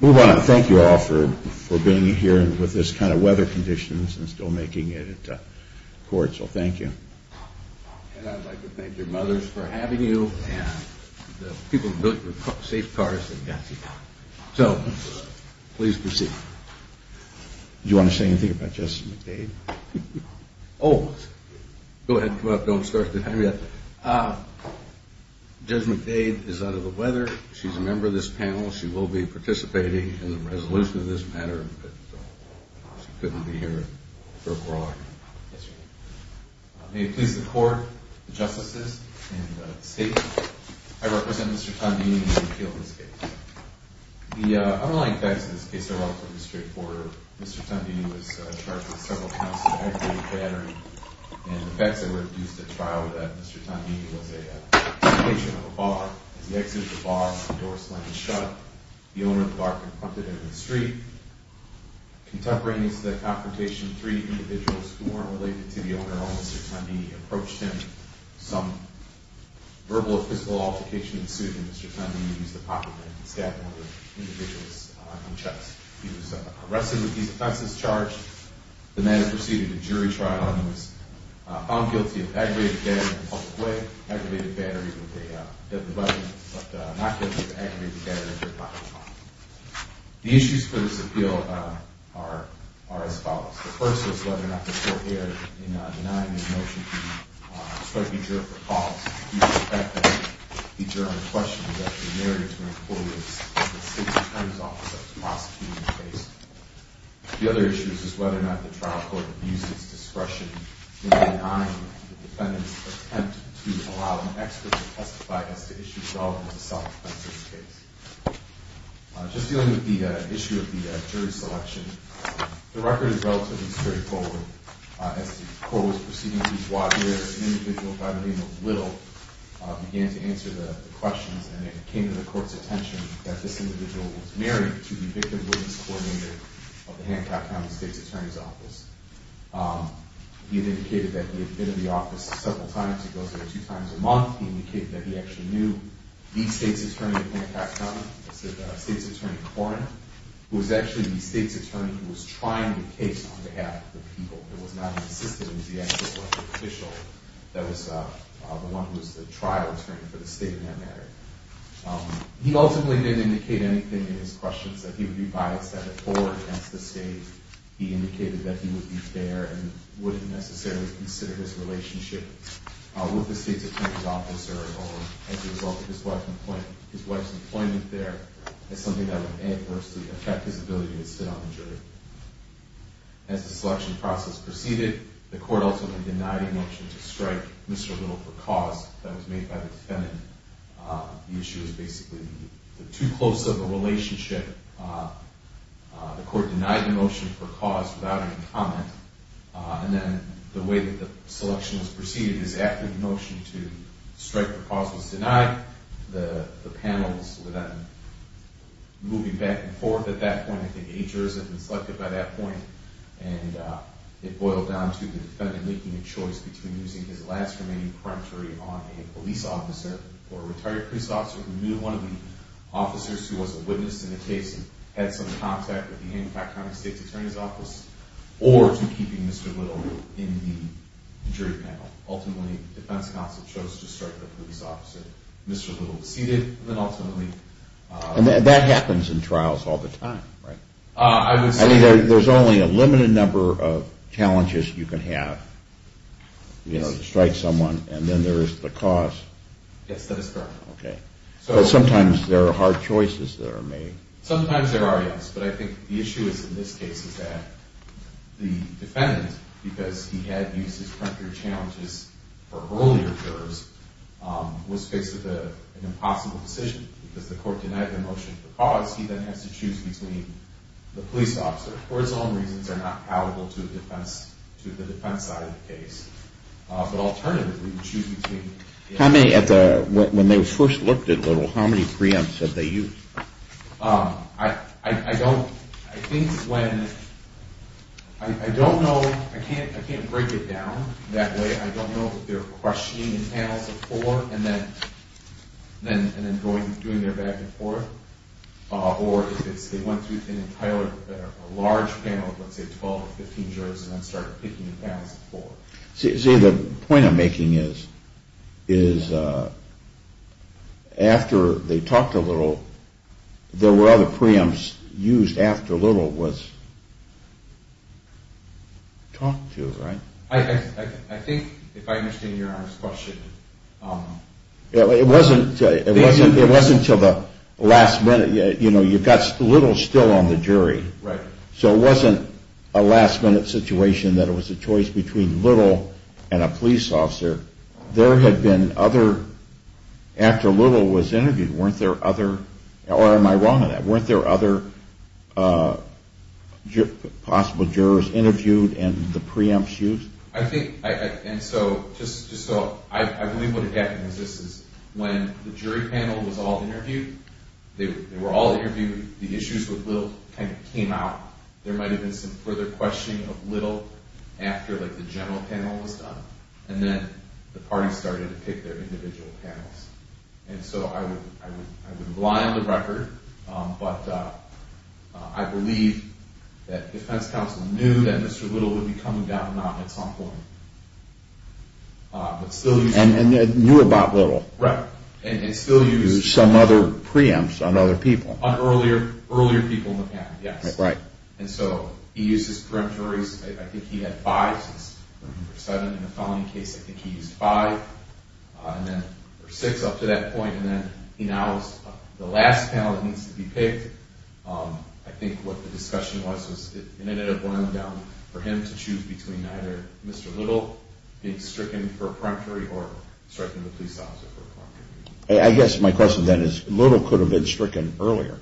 We want to thank you all for being here with this kind of weather conditions and still making it at court, so thank you. And I'd like to thank your mothers for having you and the people who built your safe cars. So please proceed. Do you want to say anything about Judge McDade? Oh, go ahead and come up. Don't start the time yet. Judge McDade is under the weather. She's a member of this panel. She will be participating in the resolution of this matter, but she couldn't be here for a while. May it please the Court, the Justices, and the State. I represent Mr. Tondini in the appeal of this case. The underlying facts of this case are relatively straightforward. Mr. Tondini was charged with several counts of aggravated battery. And the facts that were introduced at trial were that Mr. Tondini was a patient of a bar. As he exited the bar, the door slammed shut. The owner of the bar confronted him in the street. Contemporaneous to that confrontation, three individuals who weren't related to the owner at all, Mr. Tondini, approached him. Some verbal or physical altercation ensued, and Mr. Tondini used a pocket knife and stabbed one of the individuals in the chest. He was arrested with these offenses charged. The matter proceeded to jury trial, and he was found guilty of aggravated battery in a public way. Aggravated battery with a deadly weapon, but not guilty of aggravated battery at the time of trial. The issues for this appeal are as follows. The first is whether or not the Court here, in denying his motion to strike a juror for cause, used the fact that the juror on the question was actually married to an employee of the State's Attorney's Office that was prosecuting the case. The other issue is whether or not the trial court used its discretion in denying the defendant's attempt to allow an expert to testify as to issues relevant to the self-defense in this case. Just dealing with the issue of the jury selection, the record is relatively straightforward. As the Court was proceeding to the court, an individual by the name of Little began to answer the questions, and it came to the Court's attention that this individual was married to the victim's coordinator of the Hancock County State's Attorney's Office. He had indicated that he had been in the office several times. He goes there two times a month. He indicated that he actually knew the State's Attorney of Hancock County, the State's Attorney Coroner, who was actually the State's Attorney who was trying the case on behalf of the people. It was not insisted that he was the actual official that was the one who was the trial attorney for the State in that matter. He ultimately didn't indicate anything in his questions that he would be biased at all against the State. He indicated that he would be fair and wouldn't necessarily consider his relationship with the State's Attorney's Office or his wife's employment there as something that would adversely affect his ability to sit on the jury. As the selection process proceeded, the Court ultimately denied a motion to strike Mr. Little for cause that was made by the defendant. The issue is basically too close of a relationship. The Court denied the motion for cause without any comment, and then the way that the selection was proceeded is after the motion to strike for cause was denied, the panels were then moving back and forth at that point. I think eight jurors had been selected by that point, and it boiled down to the defendant making a choice between using his last remaining peremptory on a police officer or a retired police officer who knew one of the officers who was a witness in the case and had some contact with the Hancock County State's Attorney's Office, or to keeping Mr. Little in the jury panel. Ultimately, the defense counsel chose to strike the police officer. Mr. Little was seated, and then ultimately... And that happens in trials all the time, right? I mean, there's only a limited number of challenges you can have to strike someone, and then there's the cause. Yes, that is correct. But sometimes there are hard choices that are made. Sometimes there are, yes, but I think the issue is in this case is that the defendant, because he had used his peremptory challenges for earlier jurors, was faced with an impossible decision because the court denied the motion for cause. He then has to choose between the police officer. For its own reasons, they're not palatable to the defense side of the case. But alternatively, you choose between... When they first looked at Little, how many preempts had they used? I don't... I think when... I don't know. I can't break it down that way. I don't know if they were questioning in panels of four and then doing their back-and-forth, or if they went through an entire large panel of, let's say, 12 or 15 jurors and then started picking in panels of four. See, the point I'm making is after they talked to Little, there were other preempts used after Little was talked to, right? I think, if I understand your question... It wasn't until the last minute. You know, you've got Little still on the jury. Right. So it wasn't a last-minute situation that it was a choice between Little and a police officer. There had been other... After Little was interviewed, weren't there other... I think... And so, just so... I believe what had happened was this is when the jury panel was all interviewed, they were all interviewed, the issues with Little kind of came out. There might have been some further questioning of Little after, like, the general panel was done. And then the parties started to pick their individual panels. And so I would rely on the record, but I believe that defense counsel knew that Mr. Little would be coming down at some point, but still used... And knew about Little. Right. And still used some other preempts on other people. On earlier people in the panel, yes. Right. And so he used his peremptories. I think he had five since he was looking for seven. In the felony case, I think he used five, and then for six up to that point. And then he now is the last panel that needs to be picked. I think what the discussion was, it ended up going down for him to choose between either Mr. Little being stricken for a peremptory or striking the police officer for a peremptory. I guess my question then is, Little could have been stricken earlier.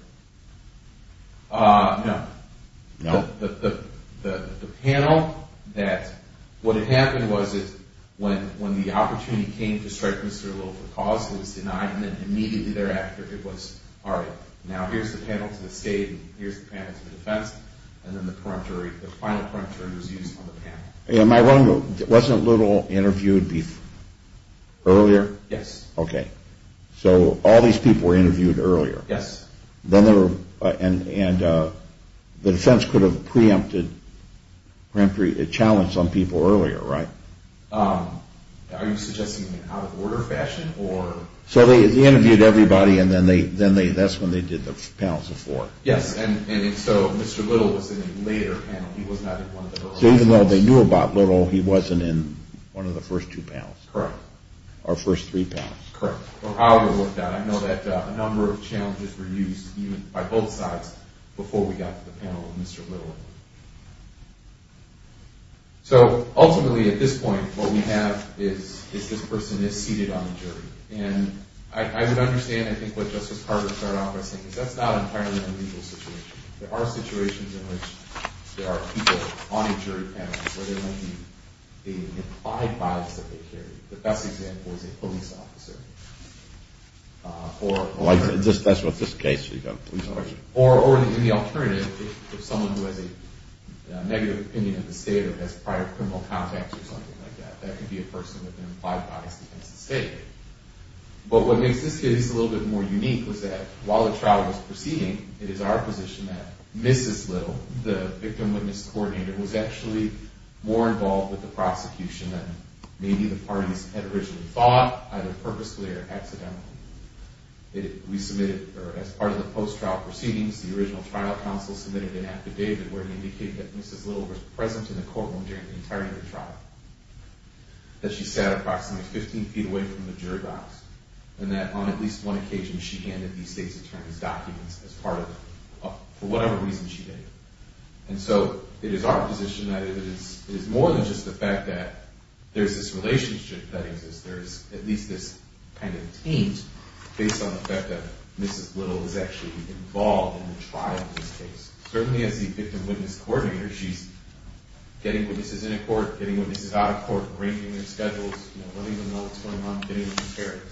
No. No? The panel that... What had happened was when the opportunity came to strike Mr. Little for cause, he was denied, and then immediately thereafter it was, all right, now here's the panel to the state, and here's the panel to the defense, and then the final peremptory was used on the panel. Am I wrong? Wasn't Little interviewed earlier? Yes. Okay. So all these people were interviewed earlier. Yes. And the defense could have preempted, challenged some people earlier, right? Are you suggesting in an out-of-order fashion, or... So they interviewed everybody, and then that's when they did the panels before. Yes, and so Mr. Little was in a later panel. He was not in one of the earlier panels. So even though they knew about Little, he wasn't in one of the first two panels. Correct. Or first three panels. Correct. How it worked out, I know that a number of challenges were used by both sides before we got to the panel of Mr. Little. And I would understand, I think, what Justice Carter started off by saying, because that's not an entirely unlegal situation. There are situations in which there are people on a jury panel where there might be the implied bias that they carry. The best example is a police officer. That's what this case, you've got a police officer. Or the alternative is someone who has a negative opinion of the state or has prior criminal contacts or something like that. That could be a person with an implied bias against the state. But what makes this case a little bit more unique was that while the trial was proceeding, it is our position that Mrs. Little, the victim-witness coordinator, was actually more involved with the prosecution than maybe the parties had originally thought, either purposefully or accidentally. We submitted, or as part of the post-trial proceedings, the original trial counsel submitted an affidavit where it indicated that she sat approximately 15 feet away from the jury box and that on at least one occasion she handed these state's attorneys documents as part of, for whatever reason she did. And so it is our position that it is more than just the fact that there's this relationship that exists. There's at least this kind of taint based on the fact that Mrs. Little is actually involved in the trial of this case. Certainly as the victim-witness coordinator, she's getting witnesses in a court, getting witnesses out of court, arranging their schedules, letting them know what's going on, getting them prepared.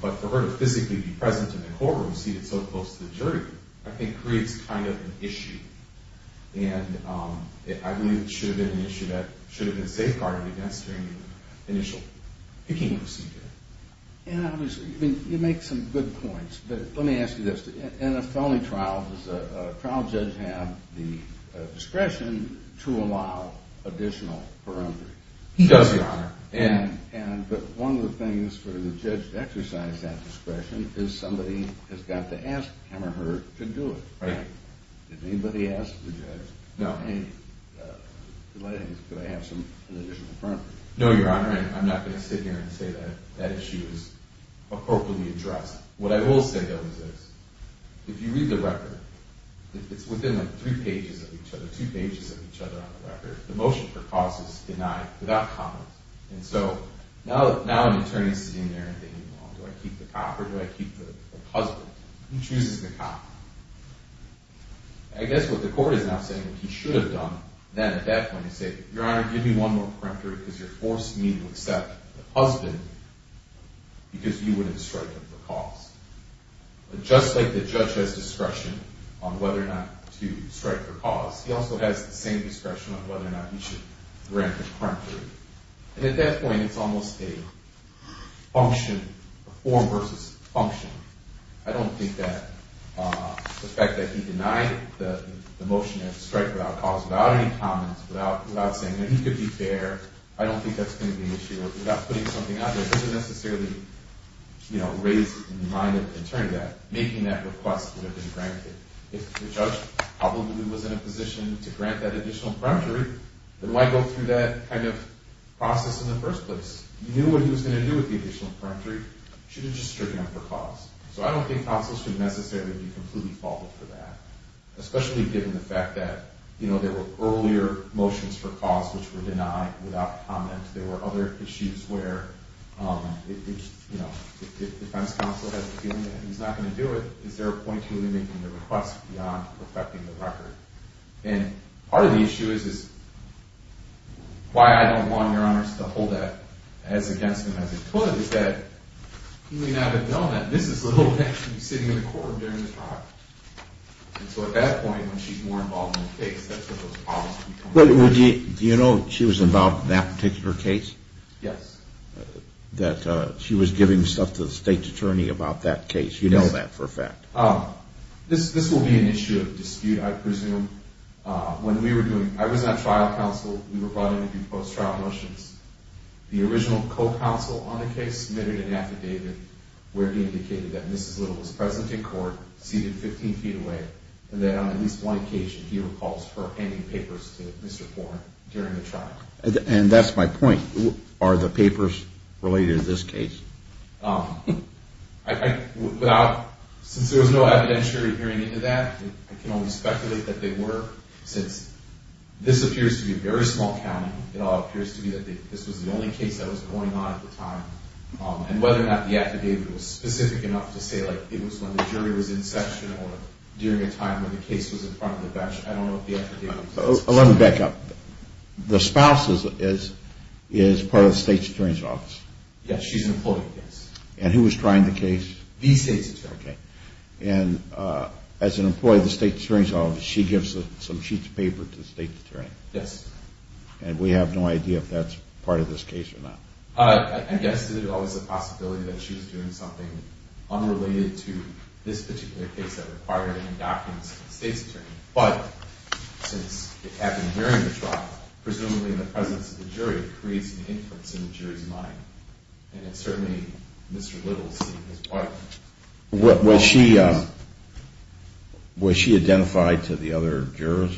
But for her to physically be present in the courtroom, seated so close to the jury, I think creates kind of an issue. And I believe it should have been an issue that should have been safeguarded against during the initial picking procedure. You make some good points, but let me ask you this. In a felony trial, does the trial judge have the discretion to allow additional perundering? He does, Your Honor. But one of the things for the judge to exercise that discretion is somebody has got to ask him or her to do it. Right. Did anybody ask the judge, hey, could I have some additional perundering? No, Your Honor, and I'm not going to sit here and say that issue is appropriately addressed. What I will say, though, is this. If you read the record, it's within like three pages of each other, two pages of each other on the record. The motion for cause is denied without comment. And so now an attorney is sitting there and thinking, well, do I keep the cop or do I keep the husband? Who chooses the cop? I guess what the court is now saying what he should have done then at that point is say, Your Honor, give me one more perundering because you're forcing me to accept the husband because you wouldn't strike him for cause. But just like the judge has discretion on whether or not to strike for cause, he also has the same discretion on whether or not he should grant the perundering. And at that point, it's almost a function, a form versus function. I don't think that the fact that he denied the motion to strike without cause, without any comments, without saying that he could be fair, without putting something out there doesn't necessarily raise the mind of an attorney that making that request would have been granted. If the judge probably was in a position to grant that additional perundering, then why go through that kind of process in the first place? He knew what he was going to do with the additional perundering. He should have just struck him for cause. So I don't think counsel should necessarily be completely faulted for that, especially given the fact that there were earlier motions for cause which were denied without comment. There were other issues where, you know, if defense counsel has a feeling that he's not going to do it, is there a point to him making the request beyond perfecting the record? And part of the issue is why I don't want Your Honors to hold that as against him as it could is that he may not have known that this is the little man who's sitting in the court during the trial. And so at that point, when she's more involved in the case, that's where those problems become. Do you know she was involved in that particular case? Yes. That she was giving stuff to the state attorney about that case. You know that for a fact. This will be an issue of dispute, I presume. When we were doing – I was on trial counsel. We were brought in to do post-trial motions. The original co-counsel on the case submitted an affidavit where he indicated that Mrs. Little was present in court, seated 15 feet away, and that on at least one occasion he recalls her handing papers to Mr. Thornt during the trial. And that's my point. Are the papers related to this case? I – without – since there was no evidentiary hearing into that, I can only speculate that they were since this appears to be a very small county. It all appears to be that this was the only case that was going on at the time. And whether or not the affidavit was specific enough to say, like, it was when the jury was in session or during a time when the case was in front of the bench, I don't know if the affidavit was specific enough. Let me back up. The spouse is part of the state attorney's office? Yes, she's an employee, yes. And who was trying the case? The state attorney. Okay. And as an employee of the state attorney's office, she gives some sheets of paper to the state attorney? Yes. And we have no idea if that's part of this case or not? I guess there's always a possibility that she was doing something unrelated to this particular case that required any documents from the state attorney. But since it happened during the trial, presumably in the presence of the jury, it creates an influence in the jury's mind. And it's certainly Mr. Littles and his wife. Was she identified to the other jurors?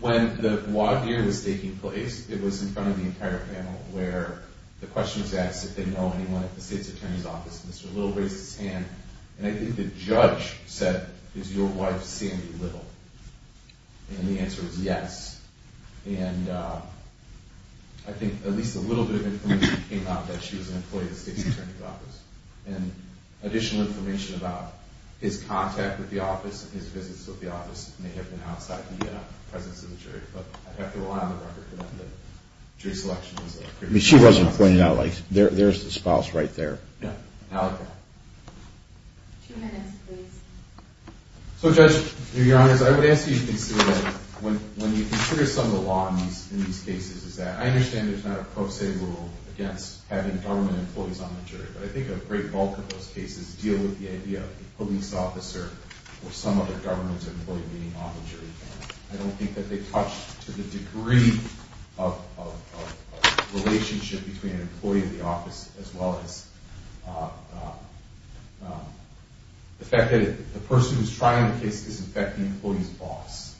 When the law hearing was taking place, it was in front of the entire panel where the question was asked if they know anyone at the state attorney's office. Mr. Littles raised his hand, and I think the judge said, Is your wife Sandy Littles? And the answer was yes. And I think at least a little bit of information came out that she was an employee of the state attorney's office. And additional information about his contact with the office, his visits with the office may have been outside the presence of the jury. But I'd have to rely on the record to know that jury selection is a critical process. I mean, she wasn't pointing out, like, there's the spouse right there. Yeah. Two minutes, please. So, Judge, to be honest, I would ask you to consider that when you consider some of the law in these cases, is that I understand there's not a pro se rule against having government employees on the jury. But I think a great bulk of those cases deal with the idea of a police officer or some other government employee being on the jury panel. I don't think that they touch to the degree of relationship between an employee of the office as well as the fact that the person who's trying the case is, in fact, the employee's boss.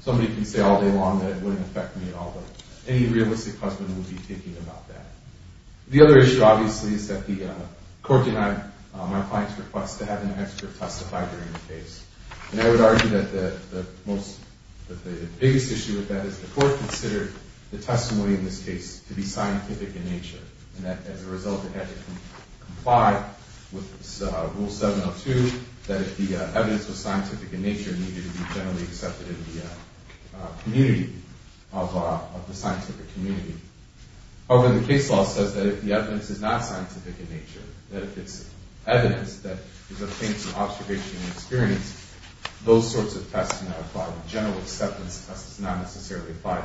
Somebody can say all day long that it wouldn't affect me at all, but any realistic husband would be thinking about that. The other issue, obviously, is that the court denied my client's request to have an expert testify during the case. And I would argue that the biggest issue with that is the court considered the testimony in this case to be scientific in nature. And as a result, it had to comply with Rule 702, that if the evidence was scientific in nature, it needed to be generally accepted in the community, of the scientific community. However, the case law says that if the evidence is not scientific in nature, that if it's evidence that is obtained through observation and experience, those sorts of tests do not apply. The general acceptance test does not necessarily apply.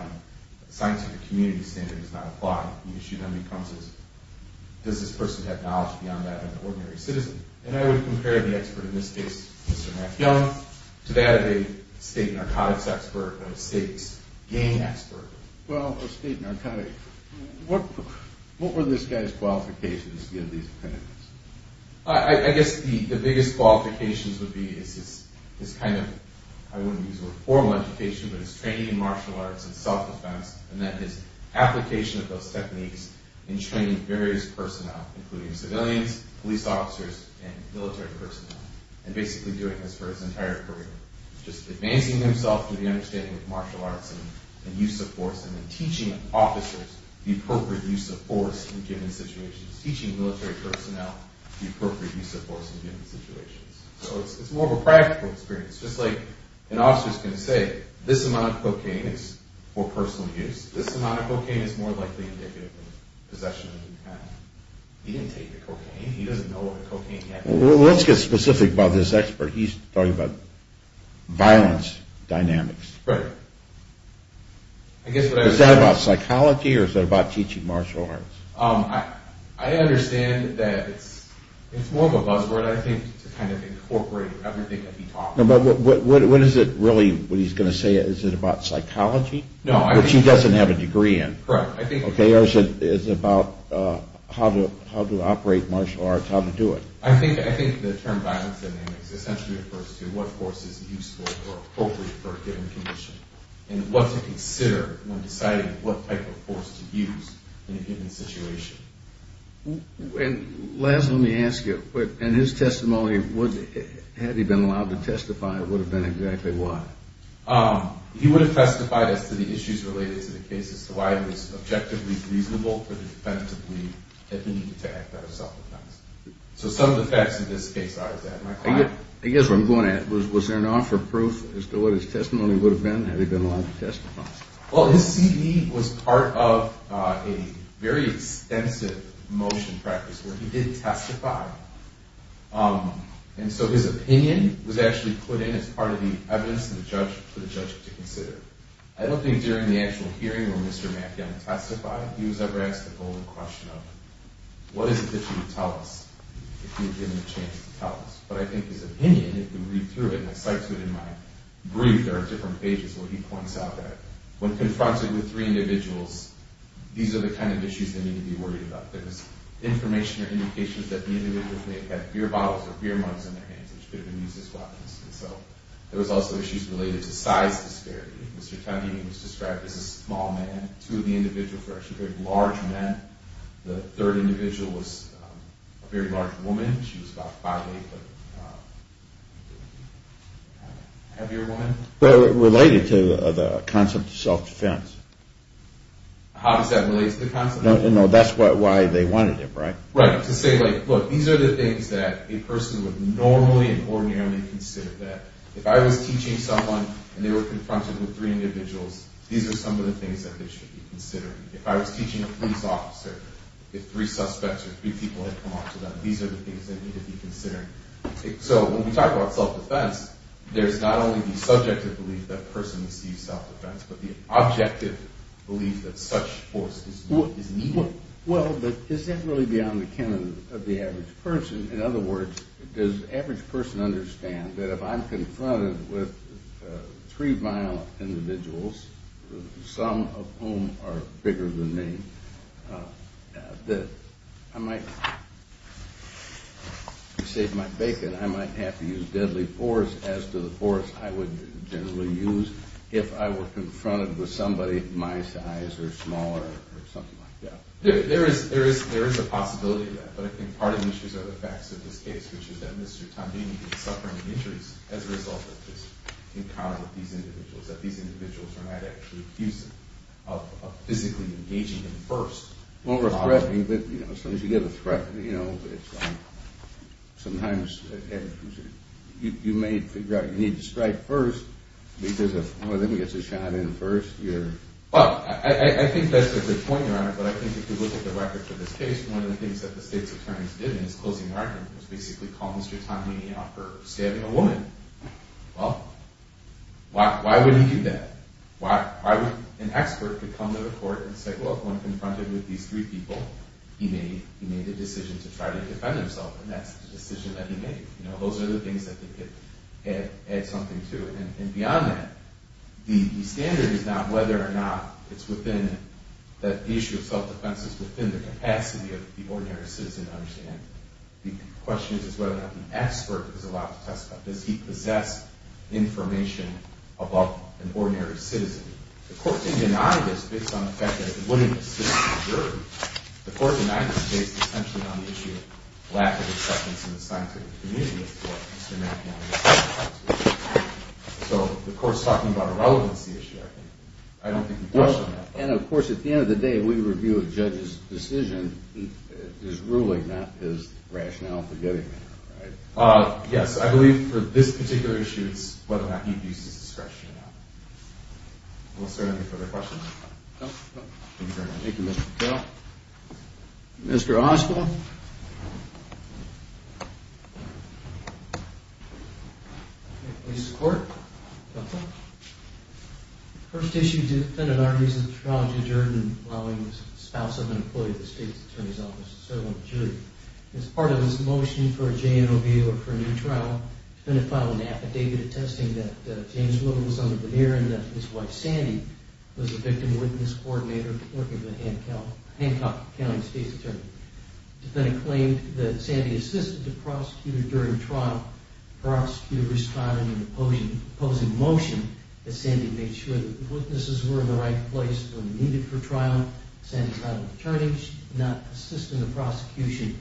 The scientific community standard does not apply. The issue then becomes is, does this person have knowledge beyond that of an ordinary citizen? And I would compare the expert in this case, Mr. Mathieu, to that of a state narcotics expert or a state gang expert. Well, a state narcotic. What were this guy's qualifications to get these patents? I guess the biggest qualifications would be his kind of, I wouldn't use the word formal education, but his training in martial arts and self-defense, and then his application of those techniques in training various personnel, including civilians, police officers, and military personnel, and basically doing this for his entire career. Just advancing himself through the understanding of martial arts and use of force, and then teaching officers the appropriate use of force in given situations. Teaching military personnel the appropriate use of force in given situations. So it's more of a practical experience. Just like an officer's going to say, this amount of cocaine is for personal use, this amount of cocaine is more likely indicative of possession of the patent. He didn't take the cocaine. He doesn't know what cocaine had to do with it. Let's get specific about this expert. He's talking about violence dynamics. Right. Is that about psychology, or is that about teaching martial arts? I understand that it's more of a buzzword, I think, to kind of incorporate everything that he talks about. But what is it really, what he's going to say, is it about psychology? No. Which he doesn't have a degree in. Correct. Or is it about how to operate martial arts, how to do it? I think the term violence dynamics essentially refers to what force is useful or appropriate for a given condition, and what to consider when deciding what type of force to use in a given situation. And, Laz, let me ask you, in his testimony, had he been allowed to testify, what would have been exactly why? He would have testified as to the issues related to the case, as to why it was objectively reasonable for the defendant to believe that he needed to act out of self-defense. So some of the facts of this case are as that. I guess what I'm going at, was there an offer of proof as to what his testimony would have been, had he been allowed to testify? Well, his C.E. was part of a very extensive motion practice where he did testify. And so his opinion was actually put in as part of the evidence for the judge to consider. I don't think during the actual hearing where Mr. Mathiam testified, he was ever asked the golden question of, what is it that you would tell us if you had given him a chance to tell us? But I think his opinion, if you read through it, and I cite to it in my brief, there are different pages where he points out that when confronted with three individuals, these are the kind of issues that need to be worried about. There's information or indications that the individual may have had beer bottles or beer mugs in their hands, which could have been used as weapons. And so there was also issues related to size disparity. Mr. Tempe was described as a small man. Two of the individuals were actually very large men. The third individual was a very large woman. She was about 5'8", a heavier woman. Related to the concept of self-defense. How does that relate to the concept? That's why they wanted him, right? Right. To say, look, these are the things that a person would normally and ordinarily consider. That if I was teaching someone and they were confronted with three individuals, these are some of the things that they should be considering. If I was teaching a police officer, if three suspects or three people had come up to them, these are the things they need to be considering. So when we talk about self-defense, there's not only the subjective belief that a person receives self-defense, but the objective belief that such force is needed. Well, but is that really beyond the canon of the average person? In other words, does the average person understand that if I'm confronted with three violent individuals, some of whom are bigger than me, that I might, to save my bacon, I might have to use deadly force as to the force I would generally use if I were confronted with somebody my size or smaller or something like that. There is a possibility of that, but I think part of the issues are the facts of this case, which is that Mr. Tandini is suffering injuries as a result of this encounter with these individuals, that these individuals are not actually abusive, of physically engaging him first. Well, we're threatening, but as soon as you get a threat, you know, sometimes you may figure out you need to strike first because if one of them gets a shot in first, you're... Well, I think that's a good point, Your Honor, but I think if you look at the records of this case, one of the things that the state's attorneys did in his closing argument was basically call Mr. Tandini out for stabbing a woman. Well, why would he do that? Why would an expert come to the court and say, well, when confronted with these three people, he made a decision to try to defend himself, and that's the decision that he made. You know, those are the things that they could add something to. And beyond that, the standard is not whether or not it's within... that the issue of self-defense is within the capacity of the ordinary citizen to understand. The question is whether or not the expert is allowed to testify. Does he possess information above an ordinary citizen? The court can deny this based on the fact that the woman is a citizen of the jury. The court can deny this based essentially on the issue of lack of acceptance in the scientific community of what Mr. Mankiewicz has to say. So the court's talking about a relevancy issue, I think. I don't think you question that. And, of course, at the end of the day, we review a judge's decision. His ruling, not his rationale for getting there, right? Yes, I believe for this particular issue, it's whether or not he abuses discretion or not. Well, sir, any further questions? Thank you, Mr. Patel. Mr. Oswald. Police Court. First issue defendant argues that the trial is adjourned allowing the spouse of an employee of the State's Attorney's Office to serve on the jury. As part of his motion for a JNOB or for a new trial, the defendant filed an affidavit attesting that James Whittle was under the mirror and that his wife, Sandy, was the victim witness coordinator working for the Hancock County State's Attorney. The defendant claimed that Sandy assisted the prosecutor during trial. Prosecutors filed an opposing motion that Sandy made sure that the witnesses were in the right place when needed for trial. Sandy's not an attorney. She did not assist in the prosecution.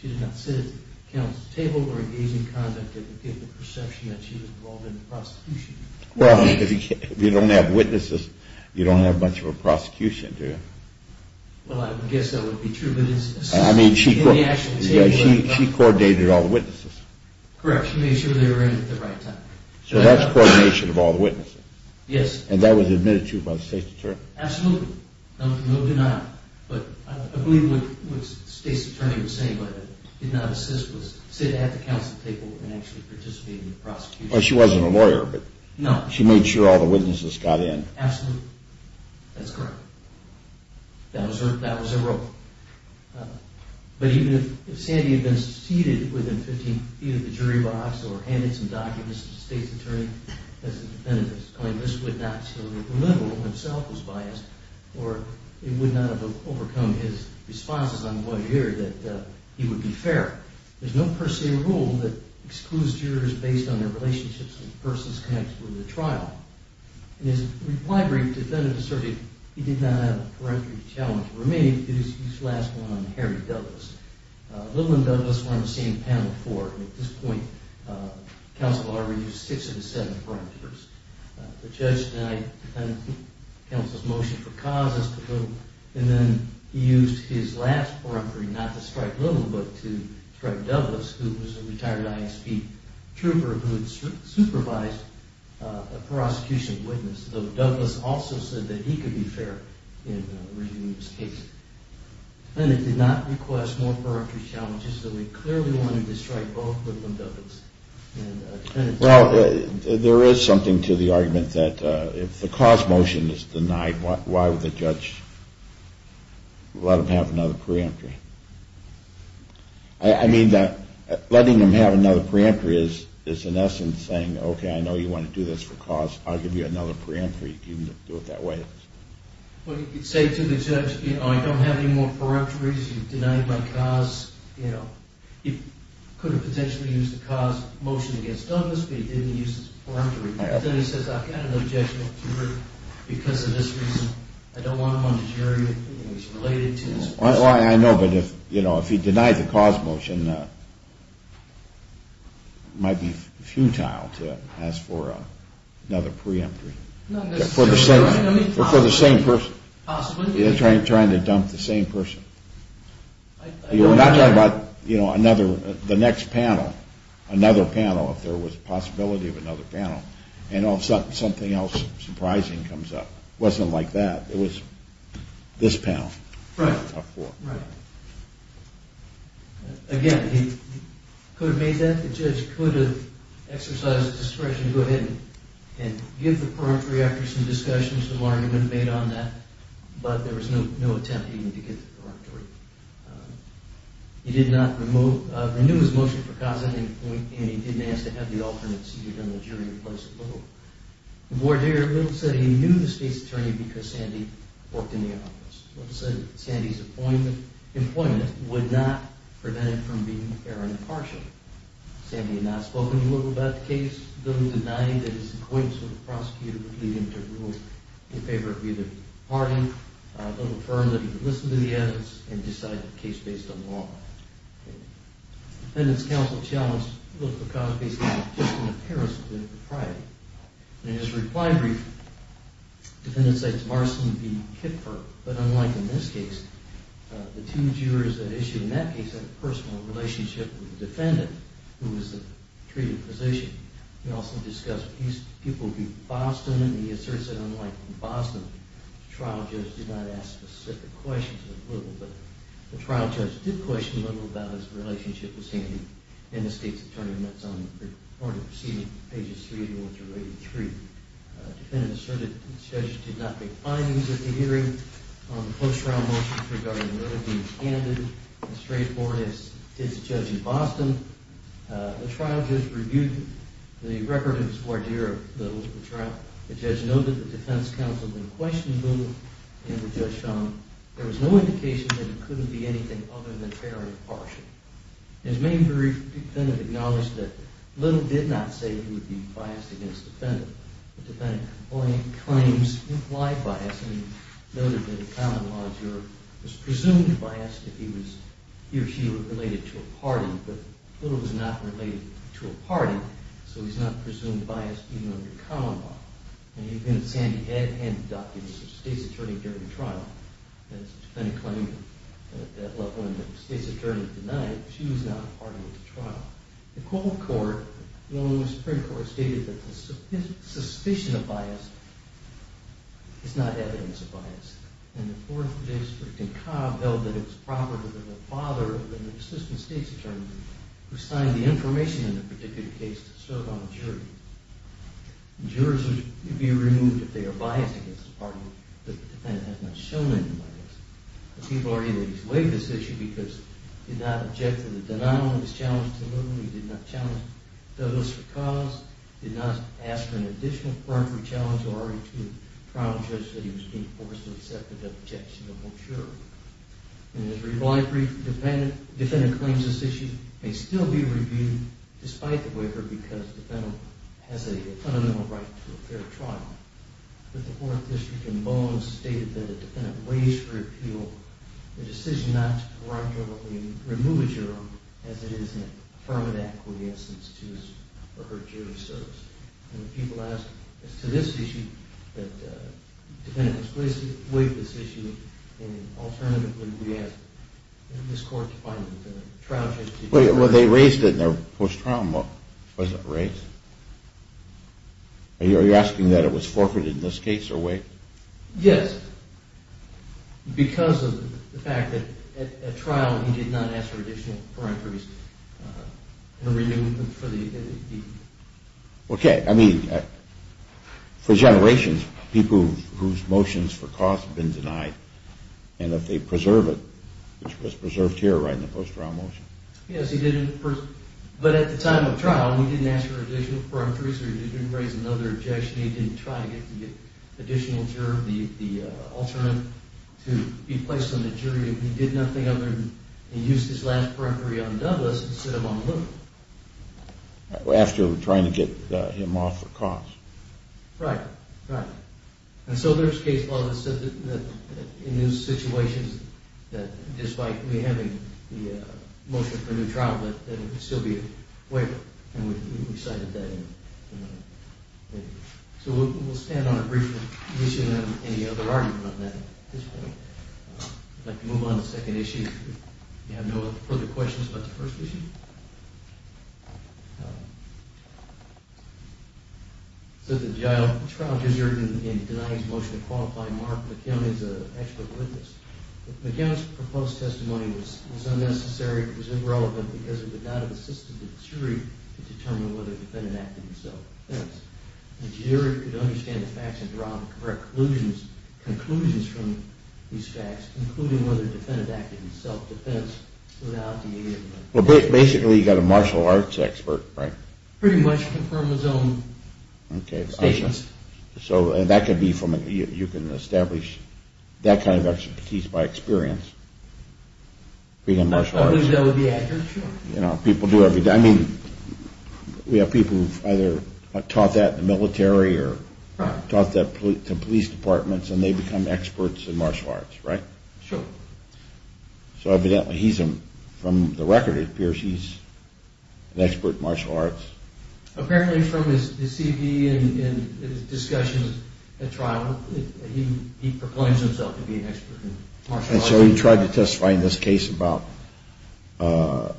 She did not sit at the counsel's table or engage in conduct that would give the perception that she was involved in the prosecution. Well, if you don't have witnesses, you don't have much of a prosecution, do you? Well, I would guess that would be true. I mean, she coordinated all the witnesses. Correct. She made sure they were in at the right time. So that's coordination of all the witnesses? Yes. And that was admitted to by the State's Attorney? Absolutely. No denial. But I believe what the State's Attorney was saying, but did not assist, was sit at the counsel's table and actually participate in the prosecution. She wasn't a lawyer, but she made sure all the witnesses got in. Absolutely. That's correct. That was her role. But even if Sandy had been seated within 15 feet of the jury box or handed some documents to the State's Attorney, as the defendant was claiming, this would not have revealed that the liberal himself was biased or it would not have overcome his responses on what he heard that he would be fair. There's no per se rule that excludes jurors based on their relationships with the persons connected with the trial. In his reply brief, the defendant asserted he did not have a peremptory challenge. For me, it is his last one on Harry Douglas. Little and Douglas were on the same panel before. At this point, counsel already used six of the seven peremptories. The judge denied counsel's motion for causes to vote, and then he used his last peremptory not to strike Little, but to strike Douglas, who was a retired ISP trooper who had supervised a prosecution witness, though Douglas also said that he could be fair in reviewing his case. The defendant did not request more peremptory challenges, so he clearly wanted to strike both Little and Douglas. Well, there is something to the argument that if the cause motion is denied, why would the judge let him have another peremptory? I mean, letting him have another peremptory is in essence saying, okay, I know you want to do this for cause. I'll give you another peremptory if you can do it that way. Well, you could say to the judge, you know, I don't have any more peremptories. You've denied my cause. You know, he could have potentially used the cause motion against Douglas, but he didn't use his peremptory. Then he says, I've got an objection to it because of this reason. I don't want him on the jury. He's related to this person. I know, but, you know, if he denied the cause motion, it might be futile to ask for another peremptory. For the same person. Possibly. Trying to dump the same person. You're not talking about, you know, another, the next panel, another panel if there was a possibility of another panel. And all of a sudden something else surprising comes up. It wasn't like that. It was this panel. Right. Again, he could have made that. The judge could have exercised discretion to go ahead and give the peremptory after some discussions, some argument made on that, but there was no attempt even to get the peremptory. He did not remove, renew his motion for cause of inappointment, and he didn't ask to have the alternate seated on the jury in place at all. The voir dire little said he knew the state's attorney because Sandy worked in the office. Little said Sandy's appointment, employment, would not prevent it from being error impartial. Sandy had not spoken to Little about the case. Little denied that his acquaintance with the prosecutor would lead him to rule in favor of either pardoning. Little affirmed that he would listen to the evidence and decide the case based on law. Defendant's counsel challenged Little for cause based on a persistent appearance of inappropriate. In his reply brief, the defendant cites Marston v. Kipfer, but unlike in this case, the two jurors that issued in that case had a personal relationship with the defendant, who was the treated physician. He also discussed people in Boston, and he asserts that unlike in Boston, the trial judge did not ask specific questions of Little, but the trial judge did question Little about his relationship with Sandy and the state's attorney, and that's on the order preceding pages 3 through 83. The defendant asserted that the judge did not make findings at the hearing. The post-trial motions regarding Little being candid and straightforward as did the judge in Boston. The trial judge reviewed the record of his voir dire of Little's trial. The judge noted that the defense counsel then questioned Little, and the judge found there was no indication that it couldn't be anything other than fair and impartial. His main jury defendant acknowledged that Little did not say he would be biased against the defendant. The defendant complained of claims implied bias and noted that a common law juror was presumed biased if he or she were related to a party, but Little was not related to a party, so he's not presumed biased even under common law, and even Sandy had handed documents to the state's attorney during the trial. The defendant claimed that when the state's attorney denied it, she was not a party to the trial. The court, the Illinois Supreme Court, stated that the suspicion of bias is not evidence of bias, and the 4th District and Cobb held that it was property of the father of an assistant state's attorney who signed the information in the particular case to serve on the jury. Jurors would be removed if they are biased against a party that the defendant has not shown any bias. The people are eager to waive this issue because he did not object to the denial of his challenge to Little, he did not challenge Douglas for cause, he did not ask for an additional primary challenge or argue to the trial judge that he was being forced to accept the objection of the jury. And his reply brief, the defendant claims this issue may still be reviewed despite the waiver because the defendant has a fundamental right to a fair trial. But the 4th District and Bowen stated that the defendant raised for appeal the decision not to remove a juror as it is an affirmative act in the absence of his or her jury service. And the people ask, as to this issue, the defendant has waived this issue and alternatively we ask this court to find a trial judge to... Well, they raised it in their post-trial book, was it raised? Are you asking that it was forfeited in this case or waived? Yes, because of the fact that at trial he did not ask for additional parenteries and a reunion for the... Okay, I mean, for generations people whose motions for cause have been denied and if they preserve it, which was preserved here right in the post-trial motion. Yes, he did, but at the time of trial he didn't ask for additional parenteries or he didn't raise another objection, he didn't try to get the additional juror, the alternate to be placed on the jury. He did nothing other than he used his last parentery on Douglas to sit him on the loop. After trying to get him off for cause. Right, right. And so there's case law that says that in these situations that despite me having the motion for a new trial that it would still be a waiver and we cited that in the... So we'll stand on a brief issue and any other argument on that at this point. I'd like to move on to the second issue if you have no further questions about the first issue. So the trial juror in denying his motion to qualify, Mark McKeown is an expert witness. McKeown's proposed testimony was unnecessary, it was irrelevant because it would not have assisted the jury to determine whether the defendant acted himself. The juror could understand the facts and draw conclusions from these facts including whether the defendant acted in self-defense without the aid of... Well basically he got a martial arts expert, right? Pretty much confirmed his own statements. So that could be from, you can establish that kind of expertise by experience. I believe that would be accurate, sure. I mean, we have people who've either taught that in the military or taught that to police departments and they've become experts in martial arts, right? Sure. So evidently he's, from the record it appears he's an expert in martial arts. Apparently from his CV and discussions at trial, he proclaims himself to be an expert in martial arts. And so he tried to testify in this case about the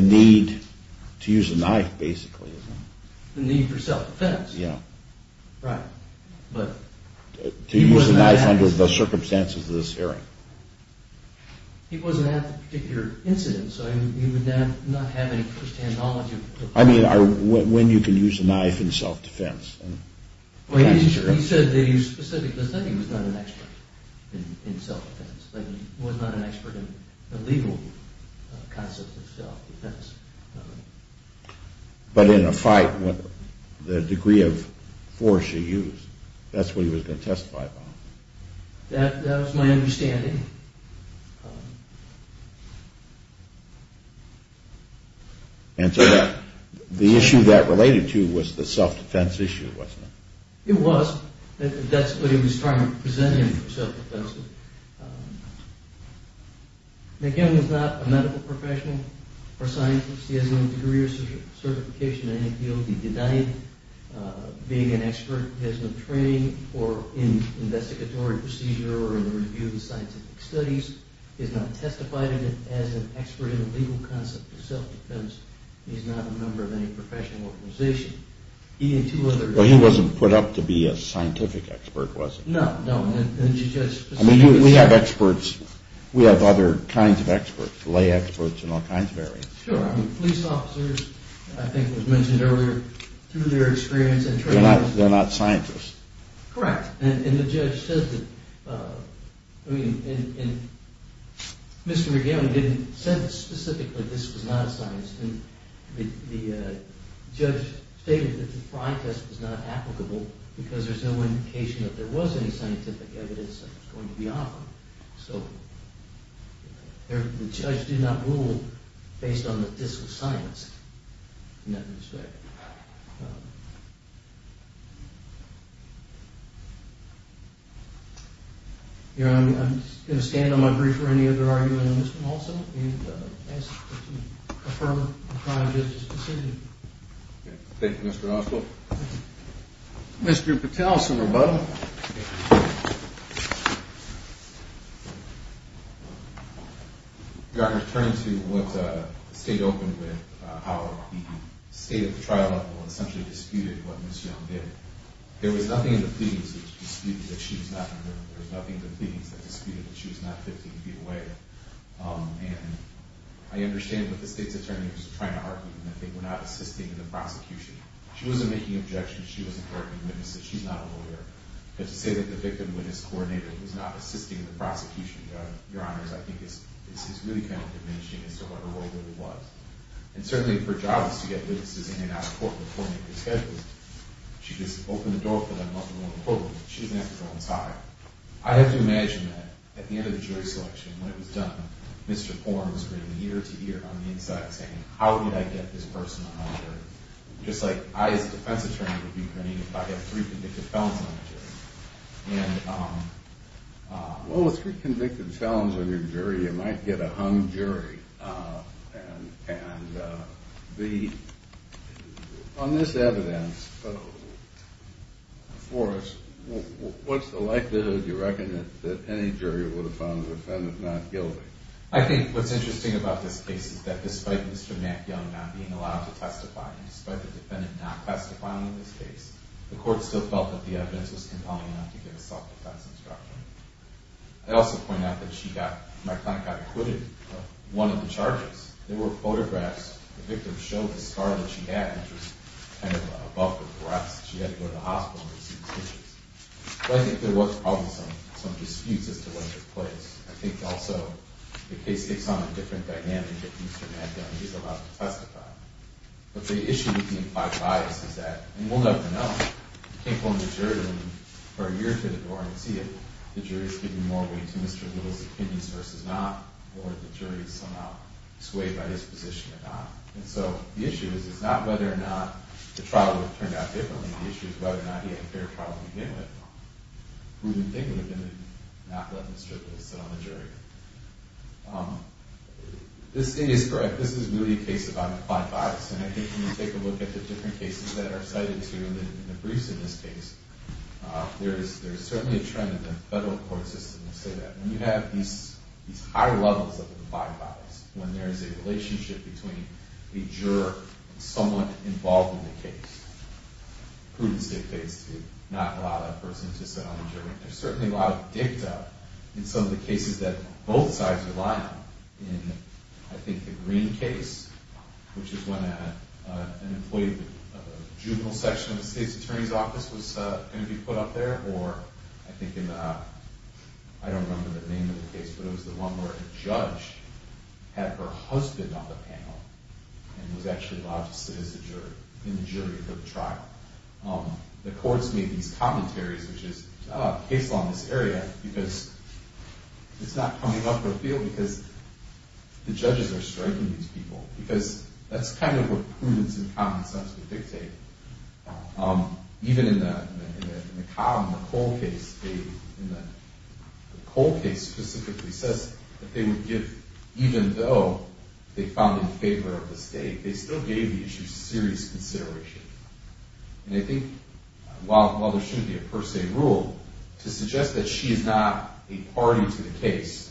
need to use a knife basically. The need for self-defense. Yeah. Right. To use a knife under the circumstances of this hearing. He wasn't at the particular incident, so he would not have any Christian knowledge of... I mean, when you can use a knife in self-defense. He said that he specifically said he was not an expert in self-defense. He was not an expert in the legal concept of self-defense. But in a fight, the degree of force you use, that's what he was going to testify about. That was my understanding. Answer that. The issue that related to was the self-defense issue, wasn't it? It was. That's what he was trying to present him for self-defense. McGinn is not a medical professional or scientist. He has no degree or certification in any field. He denied being an expert. He has no training in investigatory procedure or in the review of the scientific process. He's not testified as an expert in the legal concept of self-defense. He's not a member of any professional organization. He and two other... But he wasn't put up to be a scientific expert, was he? No, no. I mean, we have experts. We have other kinds of experts, lay experts in all kinds of areas. Sure. I mean, police officers, I think it was mentioned earlier, through their experience... They're not scientists. Correct. And the judge said that... I mean, Mr. McGinn said specifically this was not a scientist. And the judge stated that the fraud test was not applicable because there's no indication that there was any scientific evidence that was going to be offered. So, the judge did not rule based on the disc of science in that respect. Your Honor, I'm just going to stand on my brief or any other argument on this one also and ask that you affirm the trial judge's decision. Thank you, Mr. Oswald. Mr. Patel, some rebuttal. Your Honor, turning to what the State opened with, how the State at the trial level essentially disputed what Ms. Young did, there was nothing in the pleadings that disputed that she was not a murderer. There was nothing in the pleadings that disputed that she was not 15 feet away. And I understand what the State's attorney was trying to argue, and I think we're not assisting in the prosecution. She wasn't making objections. She wasn't arguing witnesses. She's not a lawyer. But to say that the victim witnessed a coronator who's not assisting in the prosecution, Your Honor, I think is really kind of diminishing as to what her role really was. And certainly if her job is to get witnesses in and out of court before they make their schedules, she could just open the door for them, let them go in the courtroom. She doesn't have to go inside. I have to imagine that at the end of the jury selection, when it was done, Mr. Forms ringing ear to ear on the inside saying, how did I get this person on my jury? Just like I, as a defense attorney, would be grinning if I get three convicted felons on my jury. And... Well, with three convicted felons on your jury, you might get a hung jury. And the... On this evidence before us, what's the likelihood, do you reckon, that any jury would have found the defendant not guilty? I think what's interesting about this case is that despite Mr. Matt Young not being allowed to testify and despite the defendant not testifying in this case, the court still felt that the evidence was compelling enough to give a self-defense instruction. I'd also point out that she got, my client got acquitted of one of the charges. There were photographs. The victim showed the scar that she had, which was kind of above the breast. She had to go to the hospital and receive stitches. But I think there was probably some disputes as to what took place. I think also the case takes on a different dynamic if Mr. Matt Young is allowed to testify. But the issue with the implied bias is that, and we'll never know, but if you take on the jury for a year to the door and see it, the jury is giving more weight to Mr. Little's opinions versus not, or the jury is somehow swayed by his position or not. And so the issue is not whether or not the trial would have turned out differently. The issue is whether or not he had a fair trial to begin with. Who do you think would have been not let Mr. Little sit on the jury? This is really a case about implied bias. And I think when you take a look at the different cases that are cited here and the briefs in this case, there is certainly a trend in the federal court system to say that when you have these higher levels of implied bias, when there is a relationship between the juror and someone involved in the case, prudence dictates to not allow that person to sit on the jury. There's certainly a lot of dicta in some of the cases that both sides rely on. In, I think, the Green case, which is when an employee of the juvenile section of the state's attorney's office was going to be put up there, or I think in, I don't remember the name of the case, but it was the one where a judge had her husband on the panel and was actually allowed to sit in the jury for the trial. The courts made these commentaries, which is, this is not a case law in this area, because it's not coming up for appeal because the judges are striking these people, because that's kind of what prudence and common sense would dictate. Even in the Cobb and the Cole case, the Cole case specifically says that they would give, even though they found in favor of the state, they still gave the issue serious consideration. And I think while there shouldn't be a per se rule to suggest that she is not a party to the case,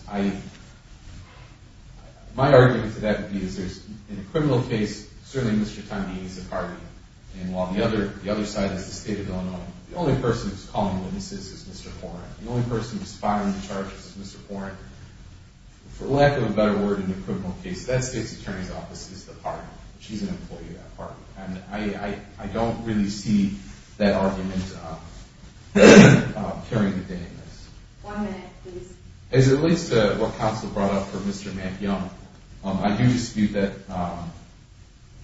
my argument for that would be that in a criminal case, certainly Mr. Tondini is a party, and while the other side is the state of Illinois, the only person who's calling the witnesses is Mr. Horan. The only person who's filing the charges is Mr. Horan. For lack of a better word in a criminal case, that state's attorney's office is the party. And I don't really see that argument carrying the day in this. One minute, please. As it relates to what counsel brought up for Mr. McYoung, I do dispute that,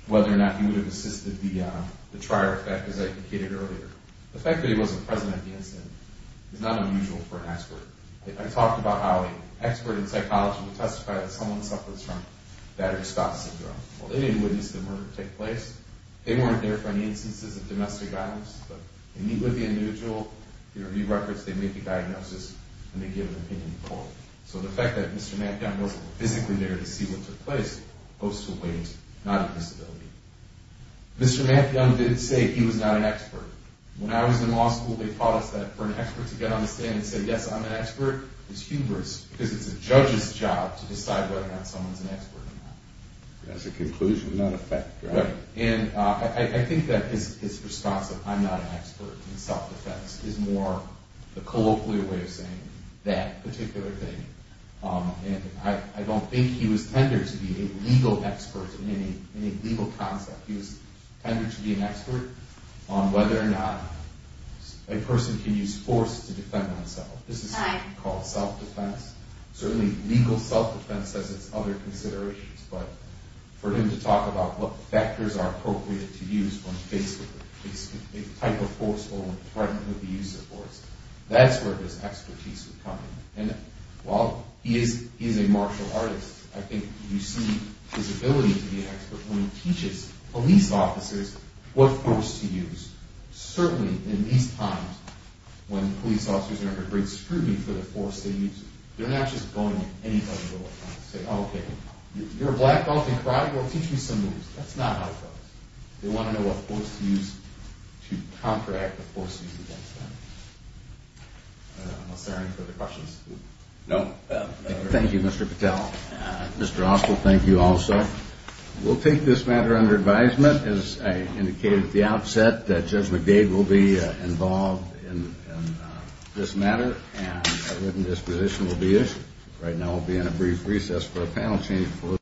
whether or not he would have assisted the trier effect, as I indicated earlier. The fact that he wasn't present at the incident is not unusual for an expert. I talked about how an expert in psychology would testify that someone suffers from Battery Scott syndrome. Well, they didn't witness the murder take place. They weren't there for any instances of domestic violence, but they meet with the individual, they review records, they make a diagnosis, and they give an opinion poll. So the fact that Mr. McYoung wasn't physically there to see what took place goes to a weight, not a disability. Mr. McYoung didn't say he was not an expert. When I was in law school, they taught us that for an expert to get on the stand and say, yes, I'm an expert, is hubris, because it's a judge's job to decide whether or not someone's an expert or not. That's a conclusion, not a fact, right? Right. And I think that his response of, I'm not an expert in self-defense, is more the colloquial way of saying that particular thing. And I don't think he was tender to be a legal expert in any legal concept. He was tender to be an expert on whether or not a person can use force to defend oneself. This is something we call self-defense. Certainly legal self-defense has its other considerations, but for him to talk about what factors are appropriate to use when faced with a type of force or a threat with the use of force, that's where his expertise would come in. And while he is a martial artist, I think you see his ability to be an expert when he teaches police officers what force to use. Certainly in these times when police officers are under great scrutiny for the force they use, they're not just going at anybody with a weapon and saying, okay, you're a black belt in karate? Well, teach me some moves. That's not how it goes. They want to know what force to use to counteract the force used against them. Are there any further questions? No. Thank you, Mr. Patel. Mr. Oswald, thank you also. We'll take this matter under advisement. As I indicated at the outset, Judge McDade will be involved in this matter and a written disposition will be issued. Right now we'll be in a brief recess for a panel change.